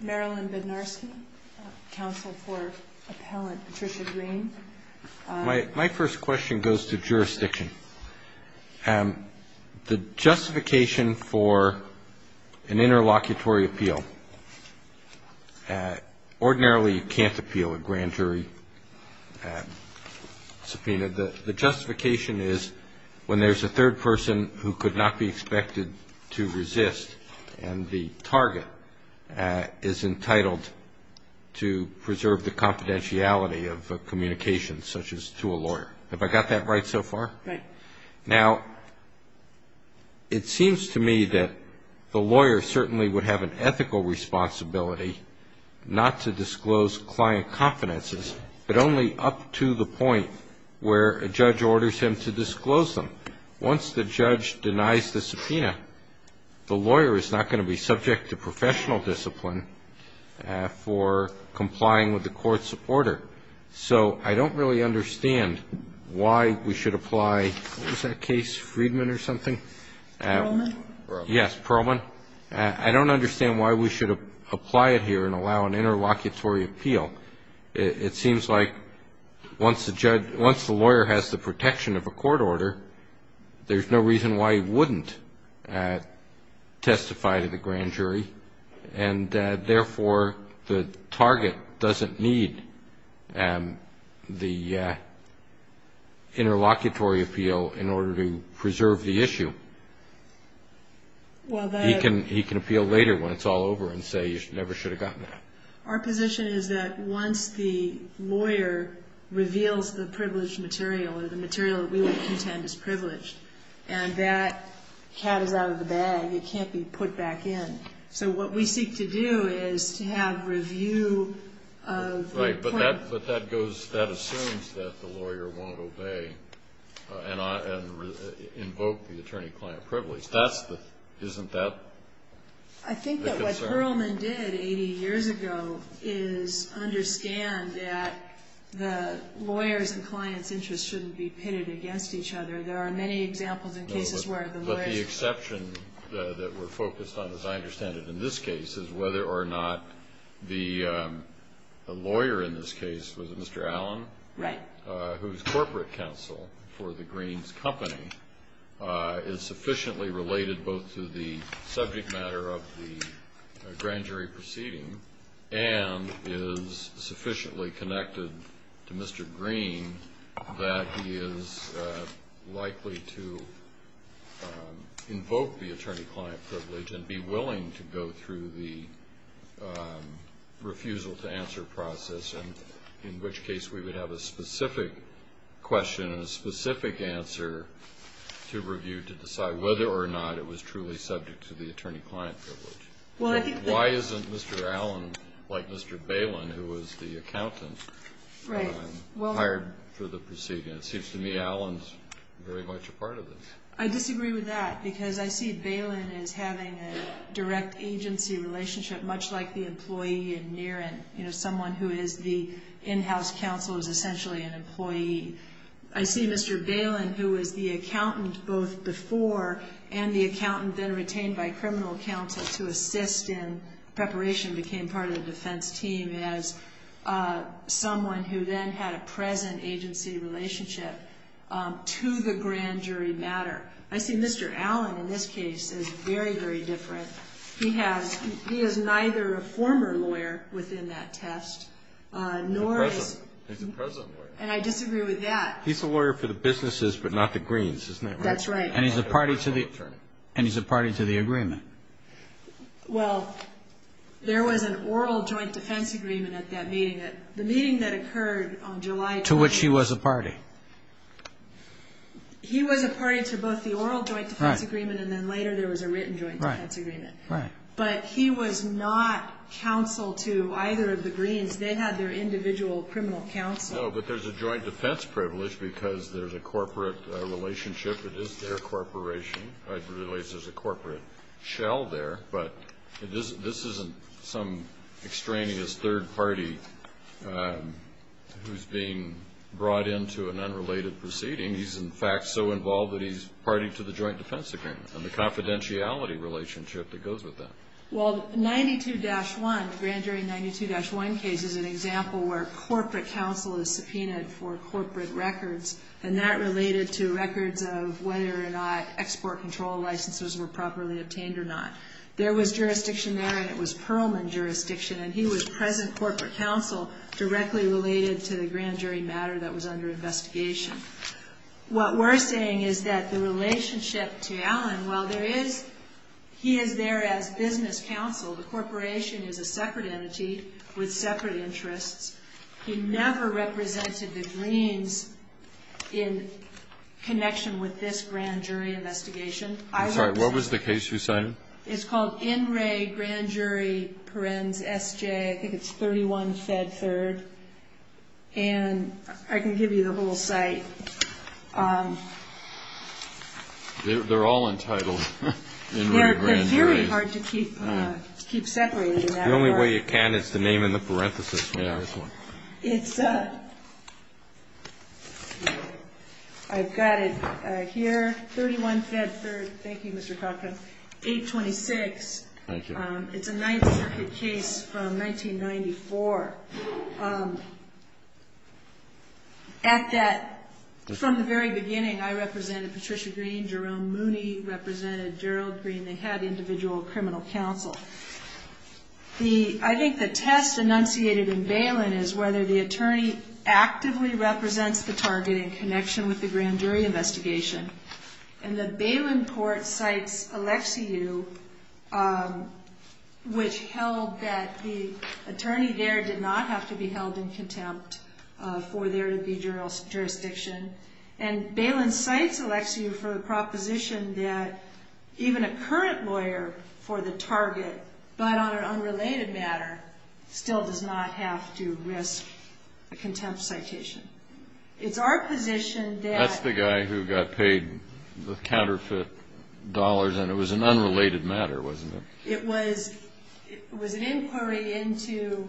Marilyn Bednarski, Counsel for Appellant Patricia Green My first question goes to jurisdiction. The justification for an interlocutory appeal, ordinarily you can't appeal a grand jury subpoena. The justification is when there's a third person who could not be expected to resist and the target is entitled to preserve the confidentiality of communications such as to a lawyer. Have I got that right so far? Right. Now, it seems to me that the lawyer certainly would have an ethical responsibility not to disclose client confidences, but only up to the point where a judge orders him to disclose them. Once the judge denies the subpoena, the lawyer is not going to be subject to professional discipline for complying with the court's order. So I don't really understand why we should apply, what was that case, Friedman or something? Perlman? Yes, Perlman. I don't understand why we should apply it here and allow an interlocutory appeal. It seems like once the judge, once the lawyer has the protection of a court order, there's no reason why he wouldn't testify to the grand jury. And therefore, the target doesn't need the interlocutory appeal in order to preserve the issue. He can appeal later when it's all over and say you never should have gotten that. Our position is that once the lawyer reveals the privileged material or the material that we would contend is privileged and that cat is out of the bag, it can't be put back in. So what we seek to do is to have review of the point. Right. But that assumes that the lawyer won't obey and invoke the attorney-client privilege. Isn't that the concern? I think that what Perlman did 80 years ago is understand that the lawyers' and clients' interests shouldn't be pitted against each other. There are many examples in cases where the lawyers' interests shouldn't be pitted against each other. And the question that's presented in this case is whether or not the lawyer in this case was Mr. Allen. Right. Whose corporate counsel for the Green's company is sufficiently related both to the subject matter of the grand jury proceeding and is sufficiently connected to Mr. Green that he is likely to invoke the attorney-client privilege and be willing to go through the refusal-to-answer process, in which case we would have a specific question and a specific answer to review to decide whether or not it was truly subject to the attorney-client privilege. Why isn't Mr. Allen, like Mr. Balin, who was the accountant, hired for the proceeding? It seems to me Allen's very much a part of this. I disagree with that because I see Balin as having a direct agency relationship, much like the employee in Niren. You know, someone who is the in-house counsel is essentially an employee. I see Mr. Balin, who was the accountant both before and the accountant then retained by criminal counsel to assist in preparation, became part of the defense team as someone who then had a present agency relationship to the grand jury matter. I see Mr. Allen in this case as very, very different. He has neither a former lawyer within that test, nor is he a present lawyer. And I disagree with that. He's a lawyer for the businesses, but not the Greens, isn't he? That's right. And he's a party to the agreement. Well, there was an oral joint defense agreement at that meeting. The meeting that occurred on July 12th. To which he was a party. He was a party to both the oral joint defense agreement and then later there was a written joint defense agreement. Right. But he was not counsel to either of the Greens. They had their individual criminal counsel. No, but there's a joint defense privilege because there's a corporate relationship. It is their corporation. There's a corporate shell there. But this isn't some extraneous third party who's being brought into an unrelated proceeding. He's, in fact, so involved that he's party to the joint defense agreement and the confidentiality relationship that goes with that. Well, 92-1, grand jury 92-1 case is an example where corporate counsel is subpoenaed for corporate records. And that related to records of whether or not export control licenses were properly obtained or not. There was jurisdiction there and it was Perlman jurisdiction. And he was present corporate counsel directly related to the grand jury matter that was under investigation. What we're saying is that the relationship to Allen, while there is, he is there as business counsel. The corporation is a separate entity with separate interests. He never represented the Greens in connection with this grand jury investigation. I'm sorry, what was the case you cited? It's called In Re Grand Jury Perens SJ. I think it's 31 Fed Third. And I can give you the whole site. They're all entitled. They're very hard to keep separated. The only way you can is to name in the parenthesis. I've got it here, 31 Fed Third. Thank you, Mr. Cochran. 826. Thank you. It's a ninth circuit case from 1994. At that, from the very beginning, I represented Patricia Green. Jerome Mooney represented Gerald Green. They had individual criminal counsel. I think the test enunciated in Balin is whether the attorney actively represents the target in connection with the grand jury investigation. And the Balin court cites Alexiou, which held that the attorney there did not have to be held in contempt for there to be jurisdiction. And Balin cites Alexiou for the proposition that even a current lawyer for the target, but on an unrelated matter, still does not have to risk a contempt citation. It's our position that- That's the guy who got paid the counterfeit dollars, and it was an unrelated matter, wasn't it? It was an inquiry into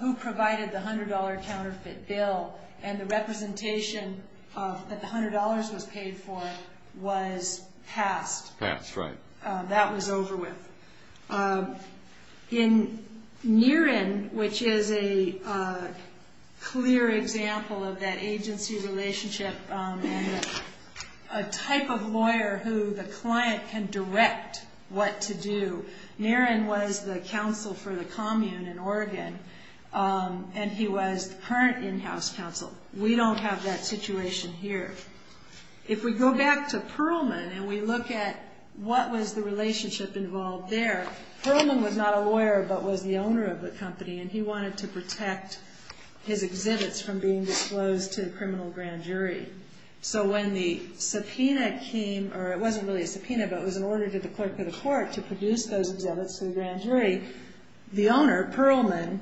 who provided the $100 counterfeit bill. And the representation that the $100 was paid for was passed. Passed, right. That was over with. In Niren, which is a clear example of that agency relationship and a type of lawyer who the client can direct what to do. Niren was the counsel for the commune in Oregon, and he was the current in-house counsel. We don't have that situation here. If we go back to Perlman and we look at what was the relationship involved there, Perlman was not a lawyer, but was the owner of the company, and he wanted to protect his exhibits from being disclosed to the criminal grand jury. So when the subpoena came, or it wasn't really a subpoena, but it was an order to the clerk of the court to produce those exhibits to the grand jury, the owner, Perlman,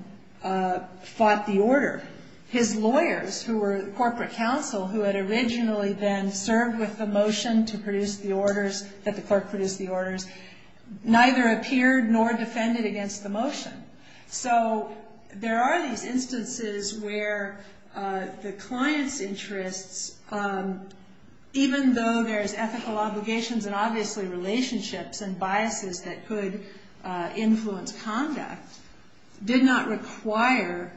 fought the order. His lawyers, who were corporate counsel, who had originally then served with the motion to produce the orders, that the clerk produce the orders, neither appeared nor defended against the motion. So there are these instances where the client's interests, even though there's ethical obligations and obviously relationships and biases that could influence conduct, did not require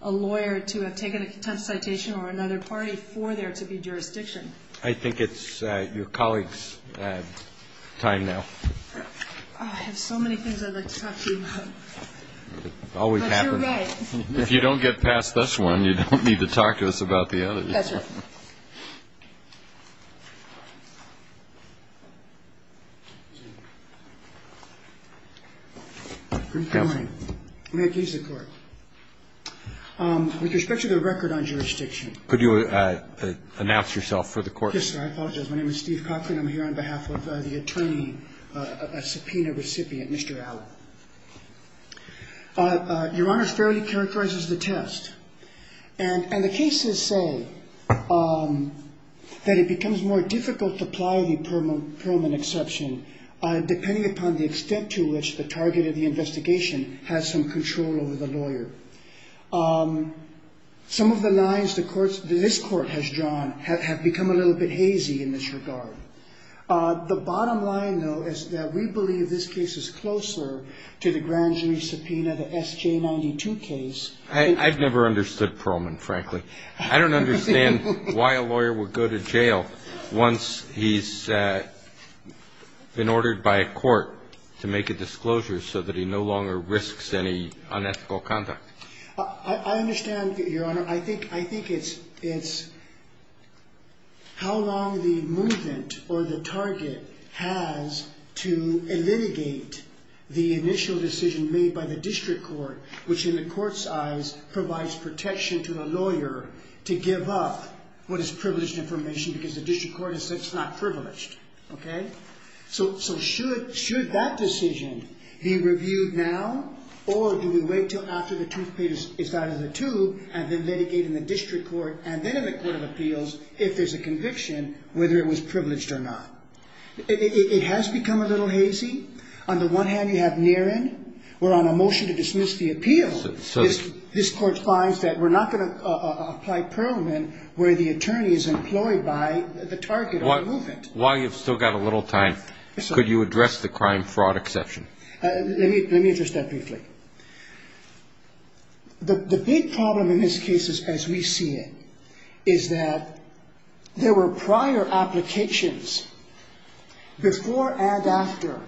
a lawyer to have taken a contentious citation or another party for there to be jurisdiction. I think it's your colleague's time now. I have so many things I'd like to talk to you about. Always happens. But you're right. If you don't get past this one, you don't need to talk to us about the others. That's right. Good morning. May it please the Court. With respect to the record on jurisdiction. Could you announce yourself for the Court? Yes, sir. I apologize. My name is Steve Cochran. I'm here on behalf of the attorney, a subpoena recipient, Mr. Allen. Your Honor, it fairly characterizes the test. And the cases say that it becomes more difficult to ply the permanent exception, depending upon the extent to which the target of the investigation has some control over the lawyer. Some of the lines this Court has drawn have become a little bit hazy in this regard. The bottom line, though, is that we believe this case is closer to the grand jury subpoena, the SJ92 case. I've never understood Perlman, frankly. I don't understand why a lawyer would go to jail once he's been ordered by a court to make a disclosure so that he no longer risks any unethical conduct. I understand, Your Honor. I think it's how long the movement or the target has to litigate the initial decision made by the district court, which in the court's eyes provides protection to the lawyer to give up what is privileged information because the district court has said it's not privileged. Okay? And then litigate in the district court and then in the court of appeals if there's a conviction, whether it was privileged or not. It has become a little hazy. On the one hand, you have Niren. We're on a motion to dismiss the appeal. This Court finds that we're not going to apply Perlman where the attorney is employed by the target of the movement. While you've still got a little time, could you address the crime-fraud exception? Let me address that briefly. The big problem in this case, as we see it, is that there were prior applications before and after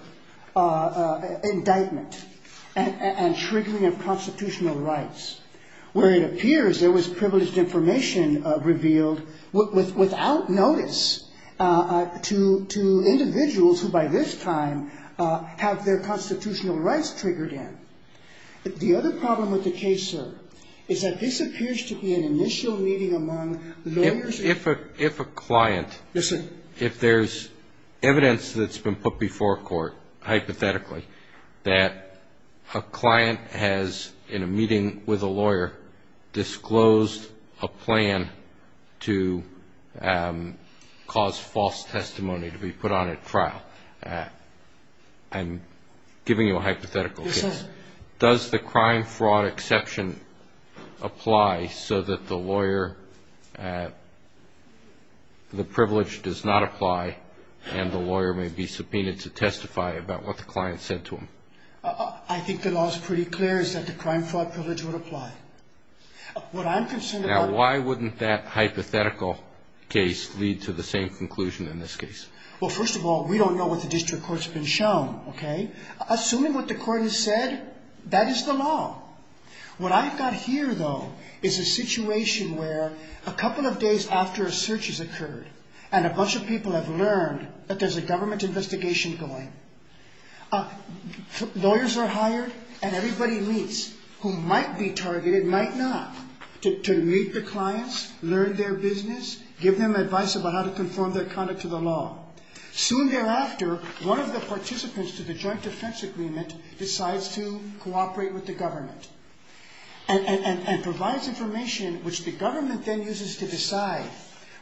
indictment and triggering of constitutional rights where it appears there was privileged information revealed without notice to individuals who by this time have their constitutional rights triggered in. The other problem with the case, sir, is that this appears to be an initial meeting among lawyers. If a client. Yes, sir. If there's evidence that's been put before court, hypothetically, that a client has, in a meeting with a lawyer, disclosed a plan to cause false testimony to be put on at trial, I'm giving you a hypothetical case. Does the crime-fraud exception apply so that the lawyer, the privilege does not apply and the lawyer may be subpoenaed to testify about what the client said to him? I think the law is pretty clear, is that the crime-fraud privilege would apply. What I'm concerned about. Now, why wouldn't that hypothetical case lead to the same conclusion in this case? Well, first of all, we don't know what the district court's been shown, okay? Assuming what the court has said, that is the law. What I've got here, though, is a situation where a couple of days after a search has occurred and a bunch of people have learned that there's a government investigation going. Lawyers are hired and everybody meets who might be targeted, might not, to meet the clients, learn their business, give them advice about how to conform their conduct to the law. Soon thereafter, one of the participants to the joint defense agreement decides to cooperate with the government and provides information which the government then uses to decide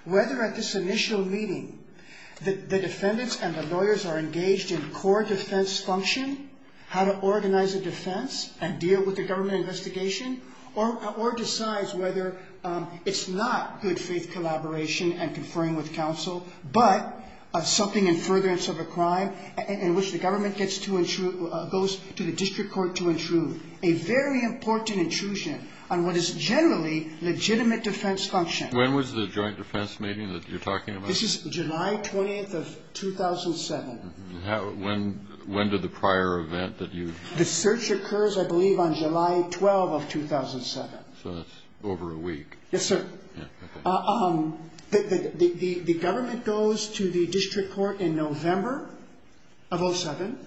whether at this initial meeting the defendants and the lawyers are engaged in core defense function, how to organize a defense and deal with the government investigation, or decides whether it's not good faith collaboration and conferring with counsel, but something in furtherance of a crime in which the government gets to intrude, goes to the district court to intrude. A very important intrusion on what is generally legitimate defense function. When was the joint defense meeting that you're talking about? This is July 20th of 2007. When did the prior event that you? The search occurs, I believe, on July 12th of 2007. So that's over a week. Yes, sir. The government goes to the district court in November of 2007.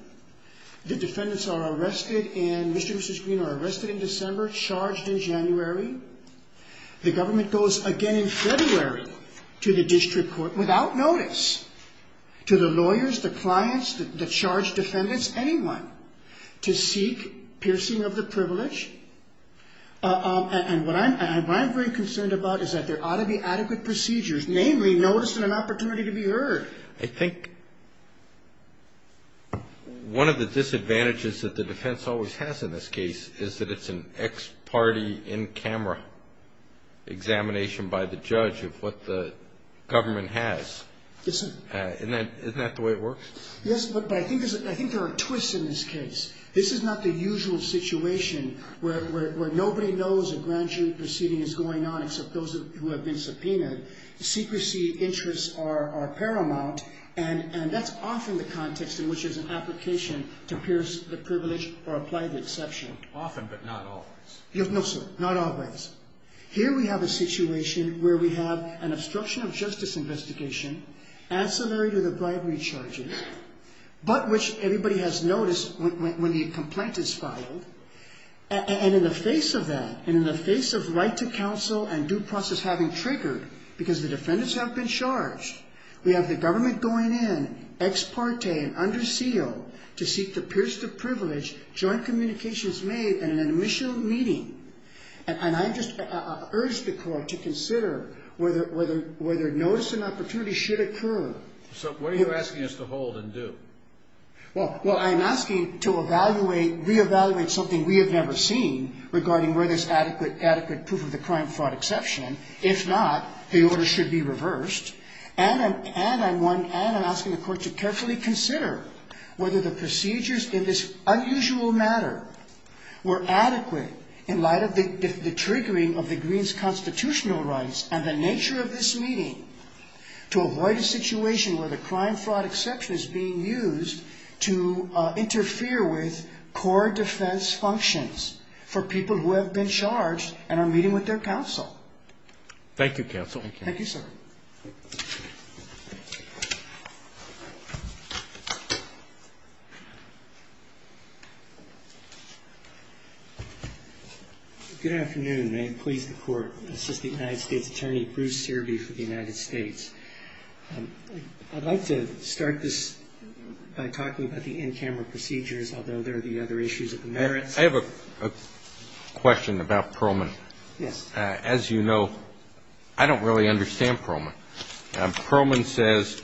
The defendants are arrested and Mr. and Mrs. Green are arrested in December, charged in January. The government goes again in February to the district court without notice, to the lawyers, the clients, the charged defendants, anyone, to seek piercing of the privilege. And what I'm very concerned about is that there ought to be adequate procedures, namely notice and an opportunity to be heard. I think one of the disadvantages that the defense always has in this case is that it's an ex-party, in-camera examination by the judge of what the government has. Isn't that the way it works? Yes, but I think there are twists in this case. This is not the usual situation where nobody knows a grand jury proceeding is going on except those who have been subpoenaed. Secrecy interests are paramount, and that's often the context in which there's an application to pierce the privilege or apply the exception. Often, but not always. No, sir, not always. Here we have a situation where we have an obstruction of justice investigation, ancillary to the bribery charges, but which everybody has noticed when the complaint is filed. And in the face of that, and in the face of right to counsel and due process having triggered, because the defendants have been charged, we have the government going in, ex-parte and under seal, to seek to pierce the privilege, joint communications made, and an admission of meeting. And I just urge the court to consider whether notice and opportunity should occur. So what are you asking us to hold and do? Well, I'm asking to evaluate, re-evaluate something we have never seen regarding whether there's adequate proof of the crime-fraud exception. If not, the order should be reversed. And I'm asking the court to carefully consider whether the procedures in this unusual matter were adequate in light of the triggering of the Green's constitutional rights and the nature of this meeting to avoid a situation where the crime-fraud exception is being used to interfere with core defense functions for people who have been charged and are meeting with their counsel. Thank you, counsel. Thank you, sir. Good afternoon. May it please the Court. Assistant United States Attorney Bruce Searby for the United States. I'd like to start this by talking about the in-camera procedures, although there are the other issues of the merits. I have a question about Perlman. Yes. As you know, I don't really understand Perlman. Perlman says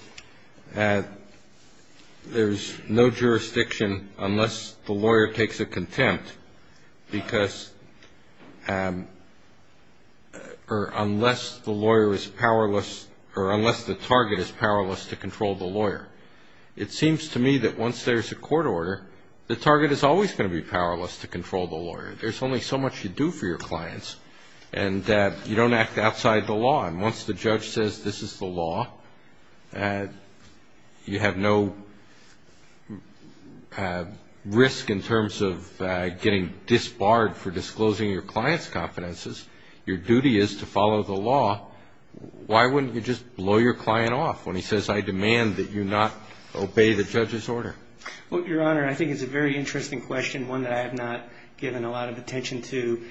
there's no jurisdiction unless the lawyer takes a contempt because or unless the lawyer is powerless or unless the target is powerless to control the lawyer. It seems to me that once there's a court order, the target is always going to be powerless to control the lawyer. There's only so much you do for your clients, and you don't act outside the law. And once the judge says this is the law, you have no risk in terms of getting disbarred for disclosing your client's confidences. Your duty is to follow the law. Why wouldn't you just blow your client off when he says, I demand that you not obey the judge's order? Well, Your Honor, I think it's a very interesting question, one that I have not given a lot of attention to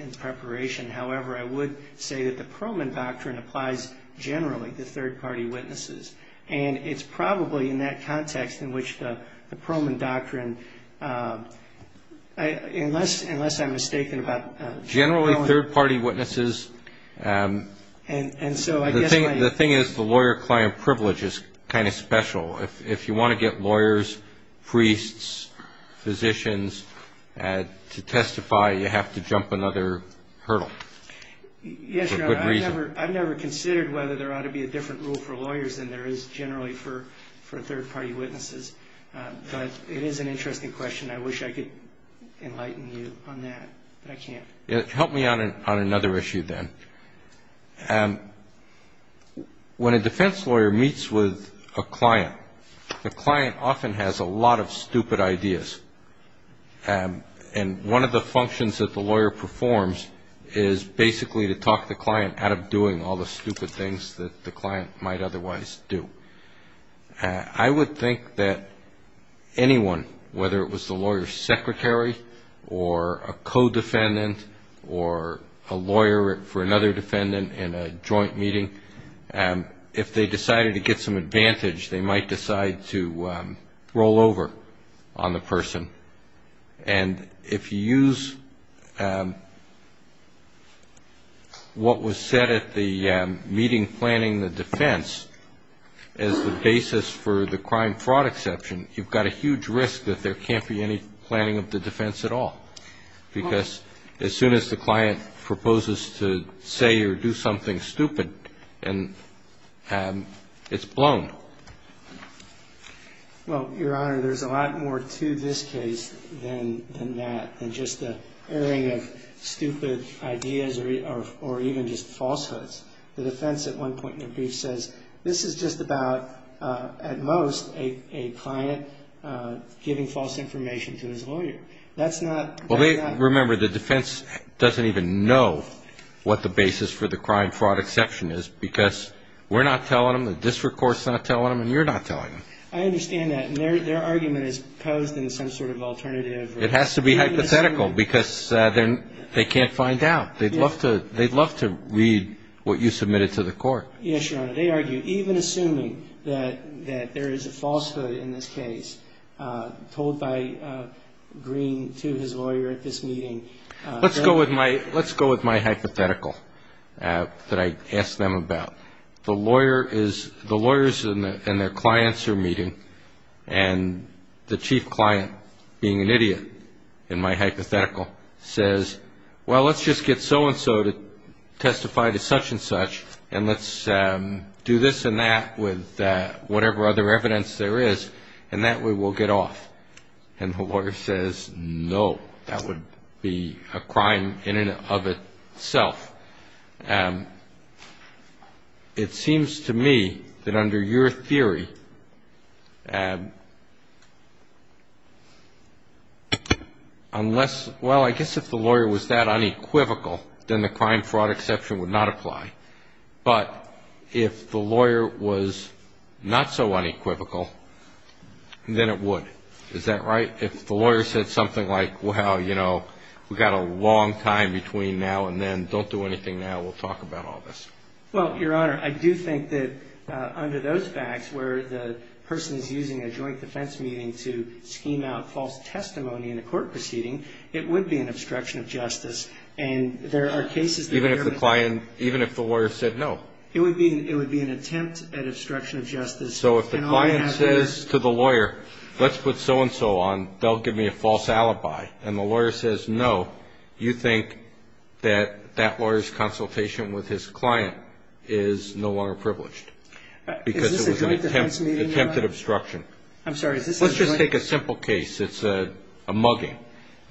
in preparation. However, I would say that the Perlman Doctrine applies generally to third-party witnesses. And it's probably in that context in which the Perlman Doctrine, unless I'm mistaken about – Generally third-party witnesses. And so I guess my – The thing is the lawyer-client privilege is kind of special. If you want to get lawyers, priests, physicians to testify, you have to jump another hurdle. Yes, Your Honor. For good reason. I've never considered whether there ought to be a different rule for lawyers than there is generally for third-party witnesses. But it is an interesting question. I wish I could enlighten you on that, but I can't. Help me on another issue then. When a defense lawyer meets with a client, the client often has a lot of stupid ideas. And one of the functions that the lawyer performs is basically to talk the client out of doing all the stupid things that the client might otherwise do. I would think that anyone, whether it was the lawyer's secretary or a co-defendant or a lawyer for another defendant in a joint meeting, if they decided to get some advantage, they might decide to roll over on the person. And if you use what was said at the meeting planning the defense as the basis for the crime-fraud exception, you've got a huge risk that there can't be any planning of the defense at all. Because as soon as the client proposes to say or do something stupid, it's blown. Well, Your Honor, there's a lot more to this case than that, than just the airing of stupid ideas or even just falsehoods. The defense at one point in the brief says, this is just about, at most, a client giving false information to his lawyer. That's not. Well, remember, the defense doesn't even know what the basis for the crime-fraud exception is because we're not telling them, the district court's not telling them, and you're not telling them. I understand that. And their argument is posed in some sort of alternative. It has to be hypothetical because they can't find out. They'd love to read what you submitted to the court. Yes, Your Honor. They argue, even assuming that there is a falsehood in this case told by Green to his lawyer at this meeting. Let's go with my hypothetical that I asked them about. The lawyers and their clients are meeting, and the chief client, being an idiot in my hypothetical, says, well, let's just get so-and-so to testify to such-and-such, and let's do this and that with whatever other evidence there is, and that way we'll get off. And the lawyer says, no, that would be a crime in and of itself. It seems to me that under your theory, unless, well, I guess if the lawyer was that unequivocal, then the crime-fraud exception would not apply. But if the lawyer was not so unequivocal, then it would. Is that right? If the lawyer said something like, well, you know, we've got a long time between now and then. Don't do anything now. We'll talk about all this. Well, Your Honor, I do think that under those facts, where the person is using a joint defense meeting to scheme out false testimony in a court proceeding, it would be an obstruction of justice. Even if the client, even if the lawyer said no? It would be an attempt at obstruction of justice. So if the client says to the lawyer, let's put so-and-so on, they'll give me a false alibi, and the lawyer says no, you think that that lawyer's consultation with his client is no longer privileged? Because it was an attempt at obstruction. I'm sorry. Let's just take a simple case. It's a mugging.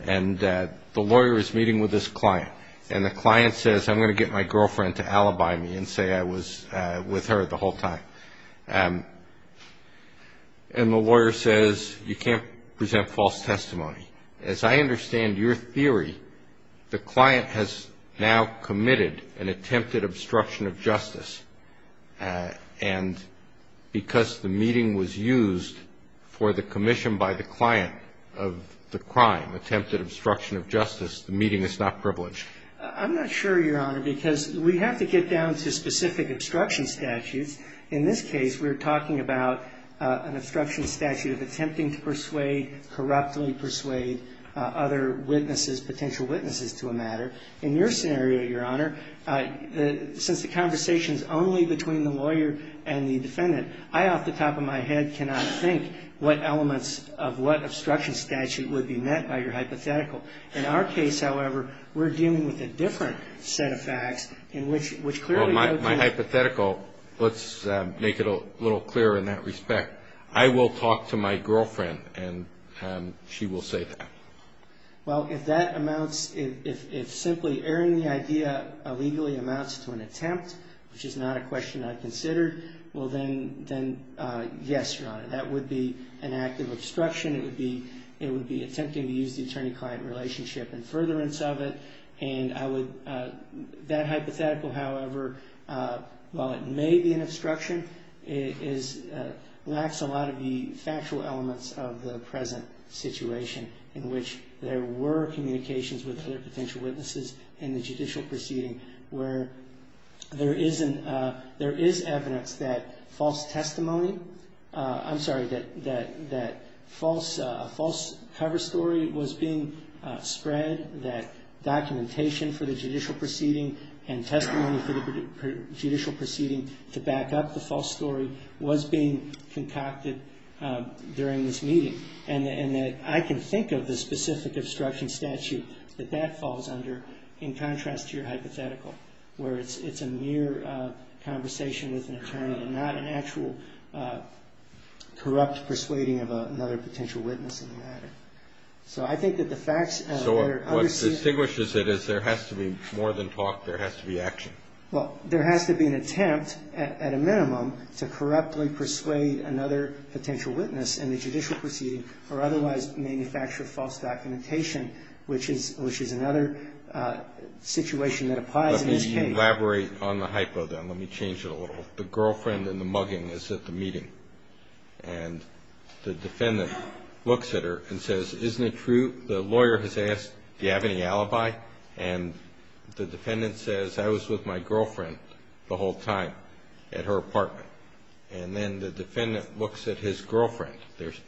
And the lawyer is meeting with his client. And the client says, I'm going to get my girlfriend to alibi me and say I was with her the whole time. And the lawyer says, you can't present false testimony. As I understand your theory, the client has now committed an attempted obstruction of justice. And because the meeting was used for the commission by the client of the crime, attempted obstruction of justice, the meeting is not privileged. I'm not sure, Your Honor, because we have to get down to specific obstruction statutes. In this case, we're talking about an obstruction statute of attempting to persuade, corruptly persuade other witnesses, potential witnesses to a matter. In your scenario, Your Honor, since the conversation is only between the lawyer and the defendant, I off the top of my head cannot think what elements of what obstruction statute would be met by your hypothetical. In our case, however, we're dealing with a different set of facts in which clearly the other person ---- Well, my hypothetical, let's make it a little clearer in that respect. I will talk to my girlfriend, and she will say that. Well, if that amounts, if simply airing the idea illegally amounts to an attempt, which is not a question I've considered, well then, yes, Your Honor. That would be an act of obstruction. It would be attempting to use the attorney-client relationship in furtherance of it. And I would, that hypothetical, however, while it may be an obstruction, lacks a lot of the factual elements of the present situation in which there were communications with other potential witnesses in the judicial proceeding where there is evidence that false testimony, I'm sorry, that false cover story was being spread, that documentation for the judicial proceeding and testimony for the judicial proceeding to back up the false story was being concocted during this meeting. And that I can think of the specific obstruction statute that that falls under in contrast to your hypothetical, where it's a mere conversation with an attorney and not an actual corrupt persuading of another potential witness in the matter. So I think that the facts that are understated So what distinguishes it is there has to be more than talk, there has to be action. Well, there has to be an attempt at a minimum to corruptly persuade another potential witness in the judicial proceeding or otherwise manufacture false documentation, which is another situation that applies in this case. Let me elaborate on the hypo then. Let me change it a little. The girlfriend in the mugging is at the meeting. And the defendant looks at her and says, Isn't it true? The lawyer has asked, Do you have any alibi? And the defendant says, I was with my girlfriend the whole time at her apartment. And then the defendant looks at his girlfriend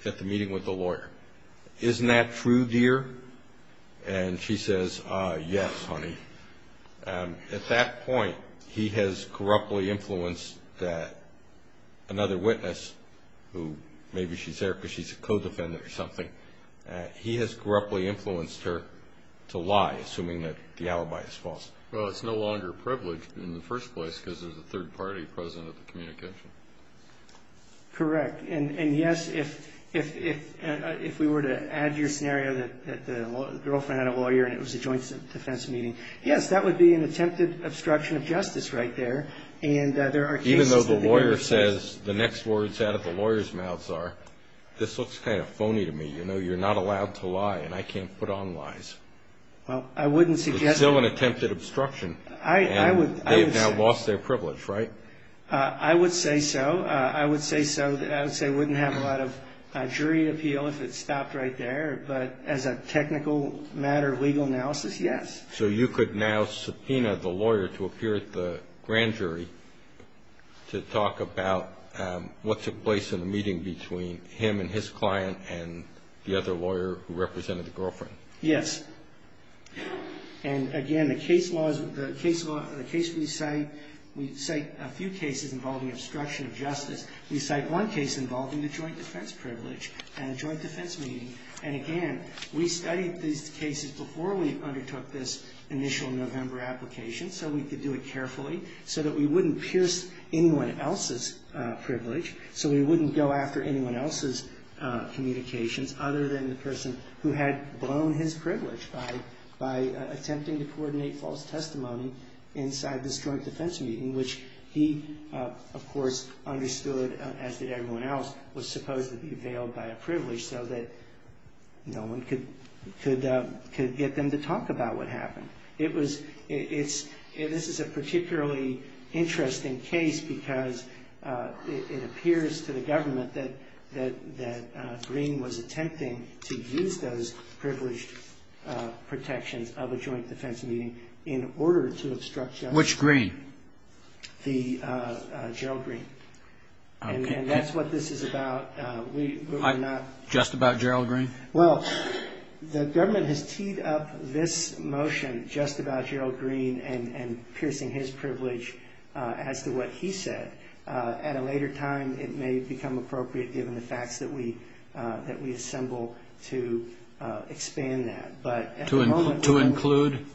at the meeting with the lawyer. Isn't that true, dear? And she says, Yes, honey. At that point, he has corruptly influenced that another witness, who maybe she's there because she's a co-defendant or something. He has corruptly influenced her to lie, assuming that the alibi is false. Well, it's no longer privileged in the first place because there's a third party present at the communication. Correct. And, yes, if we were to add your scenario that the girlfriend had a lawyer and it was a joint defense meeting, yes, that would be an attempted obstruction of justice right there. And there are cases that the hearing says the next words out of the lawyer's mouth are, This looks kind of phony to me. You know, you're not allowed to lie, and I can't put on lies. Well, I wouldn't suggest that. It's still an attempted obstruction. I would say so. And they have now lost their privilege, right? I would say so. I would say so. I would say it wouldn't have a lot of jury appeal if it stopped right there. But as a technical matter, legal analysis, yes. So you could now subpoena the lawyer to appear at the grand jury to talk about what took place in the meeting between him and his client and the other lawyer who represented the girlfriend? Yes. And, again, the case we cite, we cite a few cases involving obstruction of justice. We cite one case involving the joint defense privilege and a joint defense meeting. And, again, we studied these cases before we undertook this initial November application so we could do it carefully so that we wouldn't pierce anyone else's privilege, so we wouldn't go after anyone else's communications other than the person who had blown his privilege by attempting to coordinate false testimony inside this joint defense meeting, which he, of course, understood, as did everyone else, was supposed to be availed by a privilege so that no one could get them to talk about what happened. This is a particularly interesting case because it appears to the government that Greene was attempting to use those privileged protections of a joint defense meeting in order to obstruct justice. Which Greene? Gerald Greene. And that's what this is about. Just about Gerald Greene? Well, the government has teed up this motion just about Gerald Greene and piercing his privilege as to what he said. At a later time, it may become appropriate, given the facts that we assemble, to expand that. To include?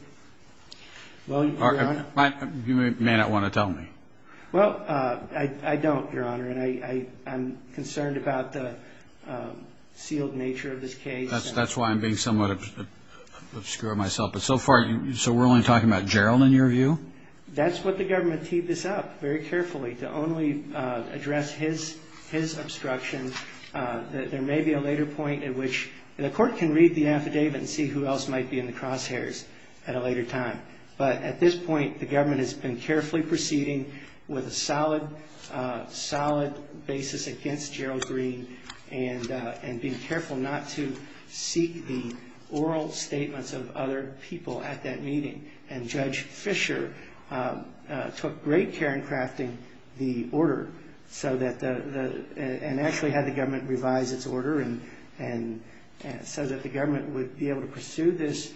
You may not want to tell me. Well, I don't, Your Honor. I'm concerned about the sealed nature of this case. That's why I'm being somewhat obscure of myself. But so far, so we're only talking about Gerald, in your view? That's what the government teed this up very carefully, to only address his obstruction. There may be a later point at which the court can read the affidavit and see who else might be in the crosshairs at a later time. But at this point, the government has been carefully proceeding with a solid, solid basis against Gerald Greene and being careful not to seek the oral statements of other people at that meeting. And Judge Fisher took great care in crafting the order and actually had the government revise its order and said that the government would be able to pursue this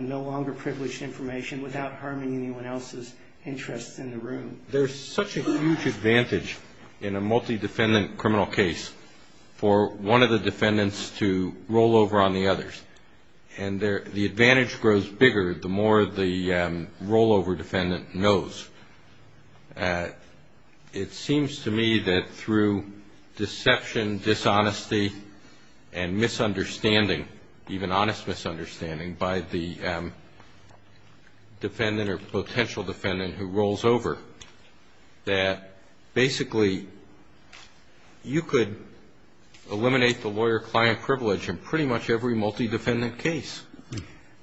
no longer privileged information without harming anyone else's interests in the room. There's such a huge advantage in a multi-defendant criminal case for one of the defendants to roll over on the others. And the advantage grows bigger the more the rollover defendant knows. It seems to me that through deception, dishonesty, and misunderstanding, even honest misunderstanding by the defendant or potential defendant who rolls over, that basically you could eliminate the lawyer-client privilege in pretty much every multi-defendant case.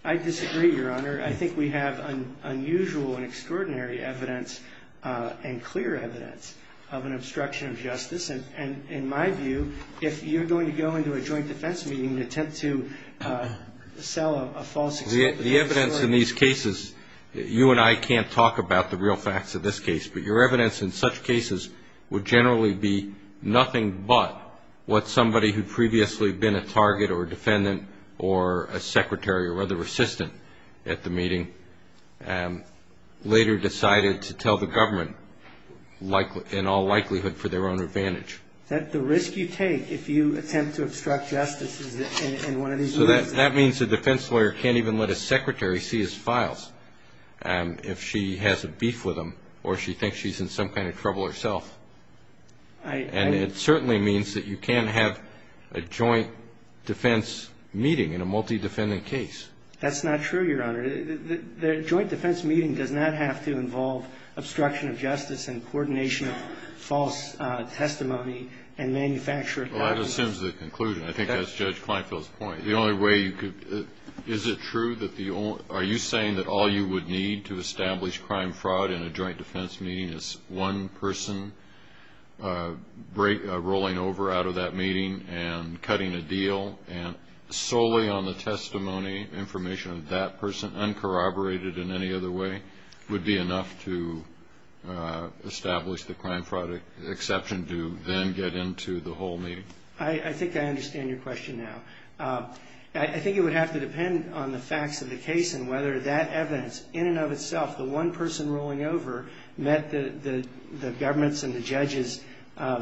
I disagree, Your Honor. Your Honor, I think we have unusual and extraordinary evidence and clear evidence of an obstruction of justice. And in my view, if you're going to go into a joint defense meeting and attempt to sell a false excuse. The evidence in these cases, you and I can't talk about the real facts of this case, but your evidence in such cases would generally be nothing but what somebody who'd previously been a target or a defendant or a secretary or other assistant at the meeting later decided to tell the government in all likelihood for their own advantage. Is that the risk you take if you attempt to obstruct justice in one of these meetings? That means a defense lawyer can't even let a secretary see his files if she has a beef with him or she thinks she's in some kind of trouble herself. And it certainly means that you can't have a joint defense meeting in a multi-defendant case. That's not true, Your Honor. The joint defense meeting does not have to involve obstruction of justice and coordination of false testimony and manufactured documents. Well, that assumes the conclusion. I think that's Judge Kleinfeld's point. The only way you could – is it true that the – are you saying that all you would need to establish crime-fraud in a joint defense meeting is one person rolling over out of that meeting and cutting a deal, and solely on the testimony information of that person, uncorroborated in any other way, would be enough to establish the crime-fraud exception to then get into the whole meeting? I think I understand your question now. I think it would have to depend on the facts of the case and whether that evidence in and of itself, the one person rolling over, met the government's and the judge's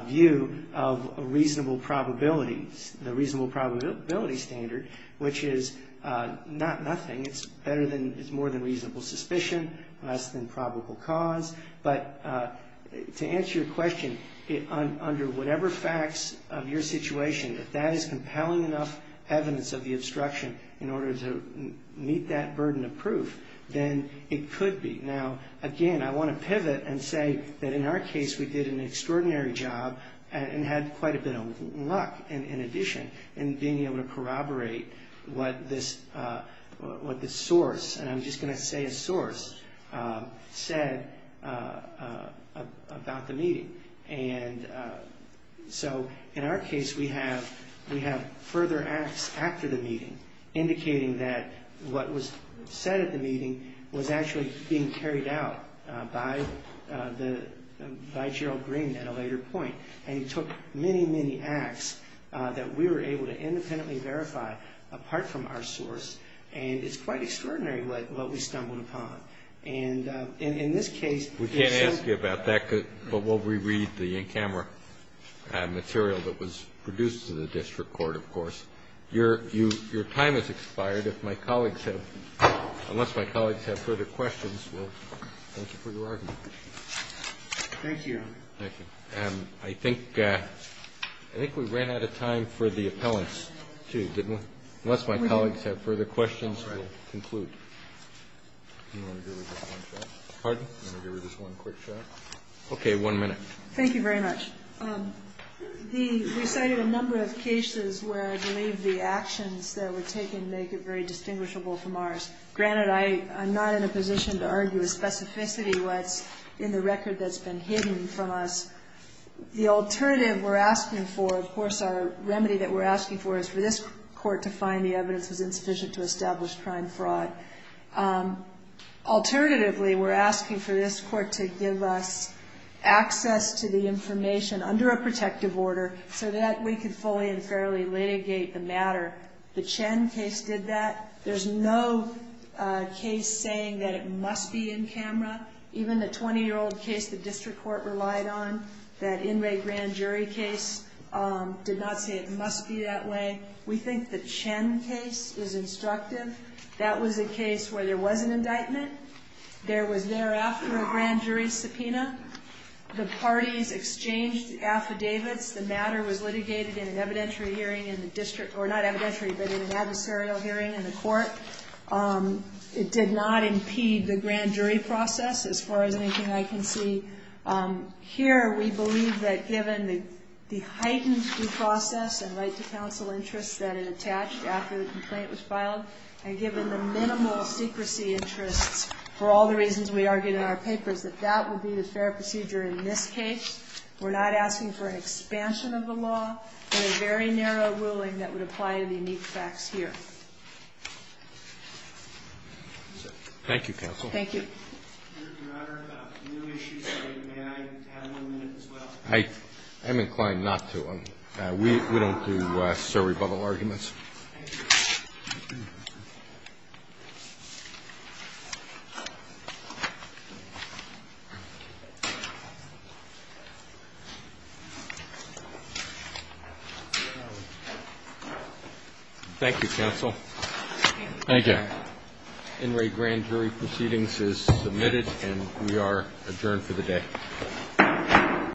view of a reasonable probability, the reasonable probability standard, which is not nothing. It's better than – it's more than reasonable suspicion, less than probable cause. But to answer your question, under whatever facts of your situation, if that is compelling enough evidence of the obstruction in order to meet that burden of proof, then it could be. Now, again, I want to pivot and say that in our case we did an extraordinary job and had quite a bit of luck in addition in being able to corroborate what this source, and I'm just going to say a source, said about the meeting. And so in our case we have further acts after the meeting, indicating that what was said at the meeting was actually being carried out by the – by Gerald Green at a later point. And he took many, many acts that we were able to independently verify apart from our source, and it's quite extraordinary what we stumbled upon. And in this case – Roberts, I'm going to ask you about that, but while we read the in-camera material that was produced in the district court, of course. Your time has expired. If my colleagues have – unless my colleagues have further questions, we'll thank you for your argument. Thank you, Your Honor. Thank you. I think we ran out of time for the appellants, too, didn't we? Unless my colleagues have further questions, we'll conclude. Do you want to give her just one shot? Pardon? Do you want to give her just one quick shot? Okay. One minute. Thank you very much. We cited a number of cases where I believe the actions that were taken make it very distinguishable from ours. Granted, I'm not in a position to argue a specificity what's in the record that's been hidden from us. The alternative we're asking for, of course, our remedy that we're asking for is for alternatively, we're asking for this court to give us access to the information under a protective order so that we could fully and fairly litigate the matter. The Chen case did that. There's no case saying that it must be in-camera. Even the 20-year-old case the district court relied on, that inmate grand jury case, did not say it must be that way. We think the Chen case is instructive. That was a case where there was an indictment. There was thereafter a grand jury subpoena. The parties exchanged affidavits. The matter was litigated in an evidentiary hearing in the district, or not evidentiary, but in an adversarial hearing in the court. It did not impede the grand jury process as far as anything I can see. Here, we believe that given the heightened due process and right to counsel interests that it attached after the complaint was filed, and given the minimal secrecy interests for all the reasons we argued in our papers, that that would be the fair procedure in this case. We're not asking for an expansion of the law in a very narrow ruling that would apply to the unique facts here. Roberts. Thank you, counsel. Thank you. Your Honor, no issues today. May I have one minute as well? I'm inclined not to. We don't do sorry-bubble arguments. Thank you, counsel. Thank you. NRA grand jury proceedings is submitted, and we are adjourned for the day.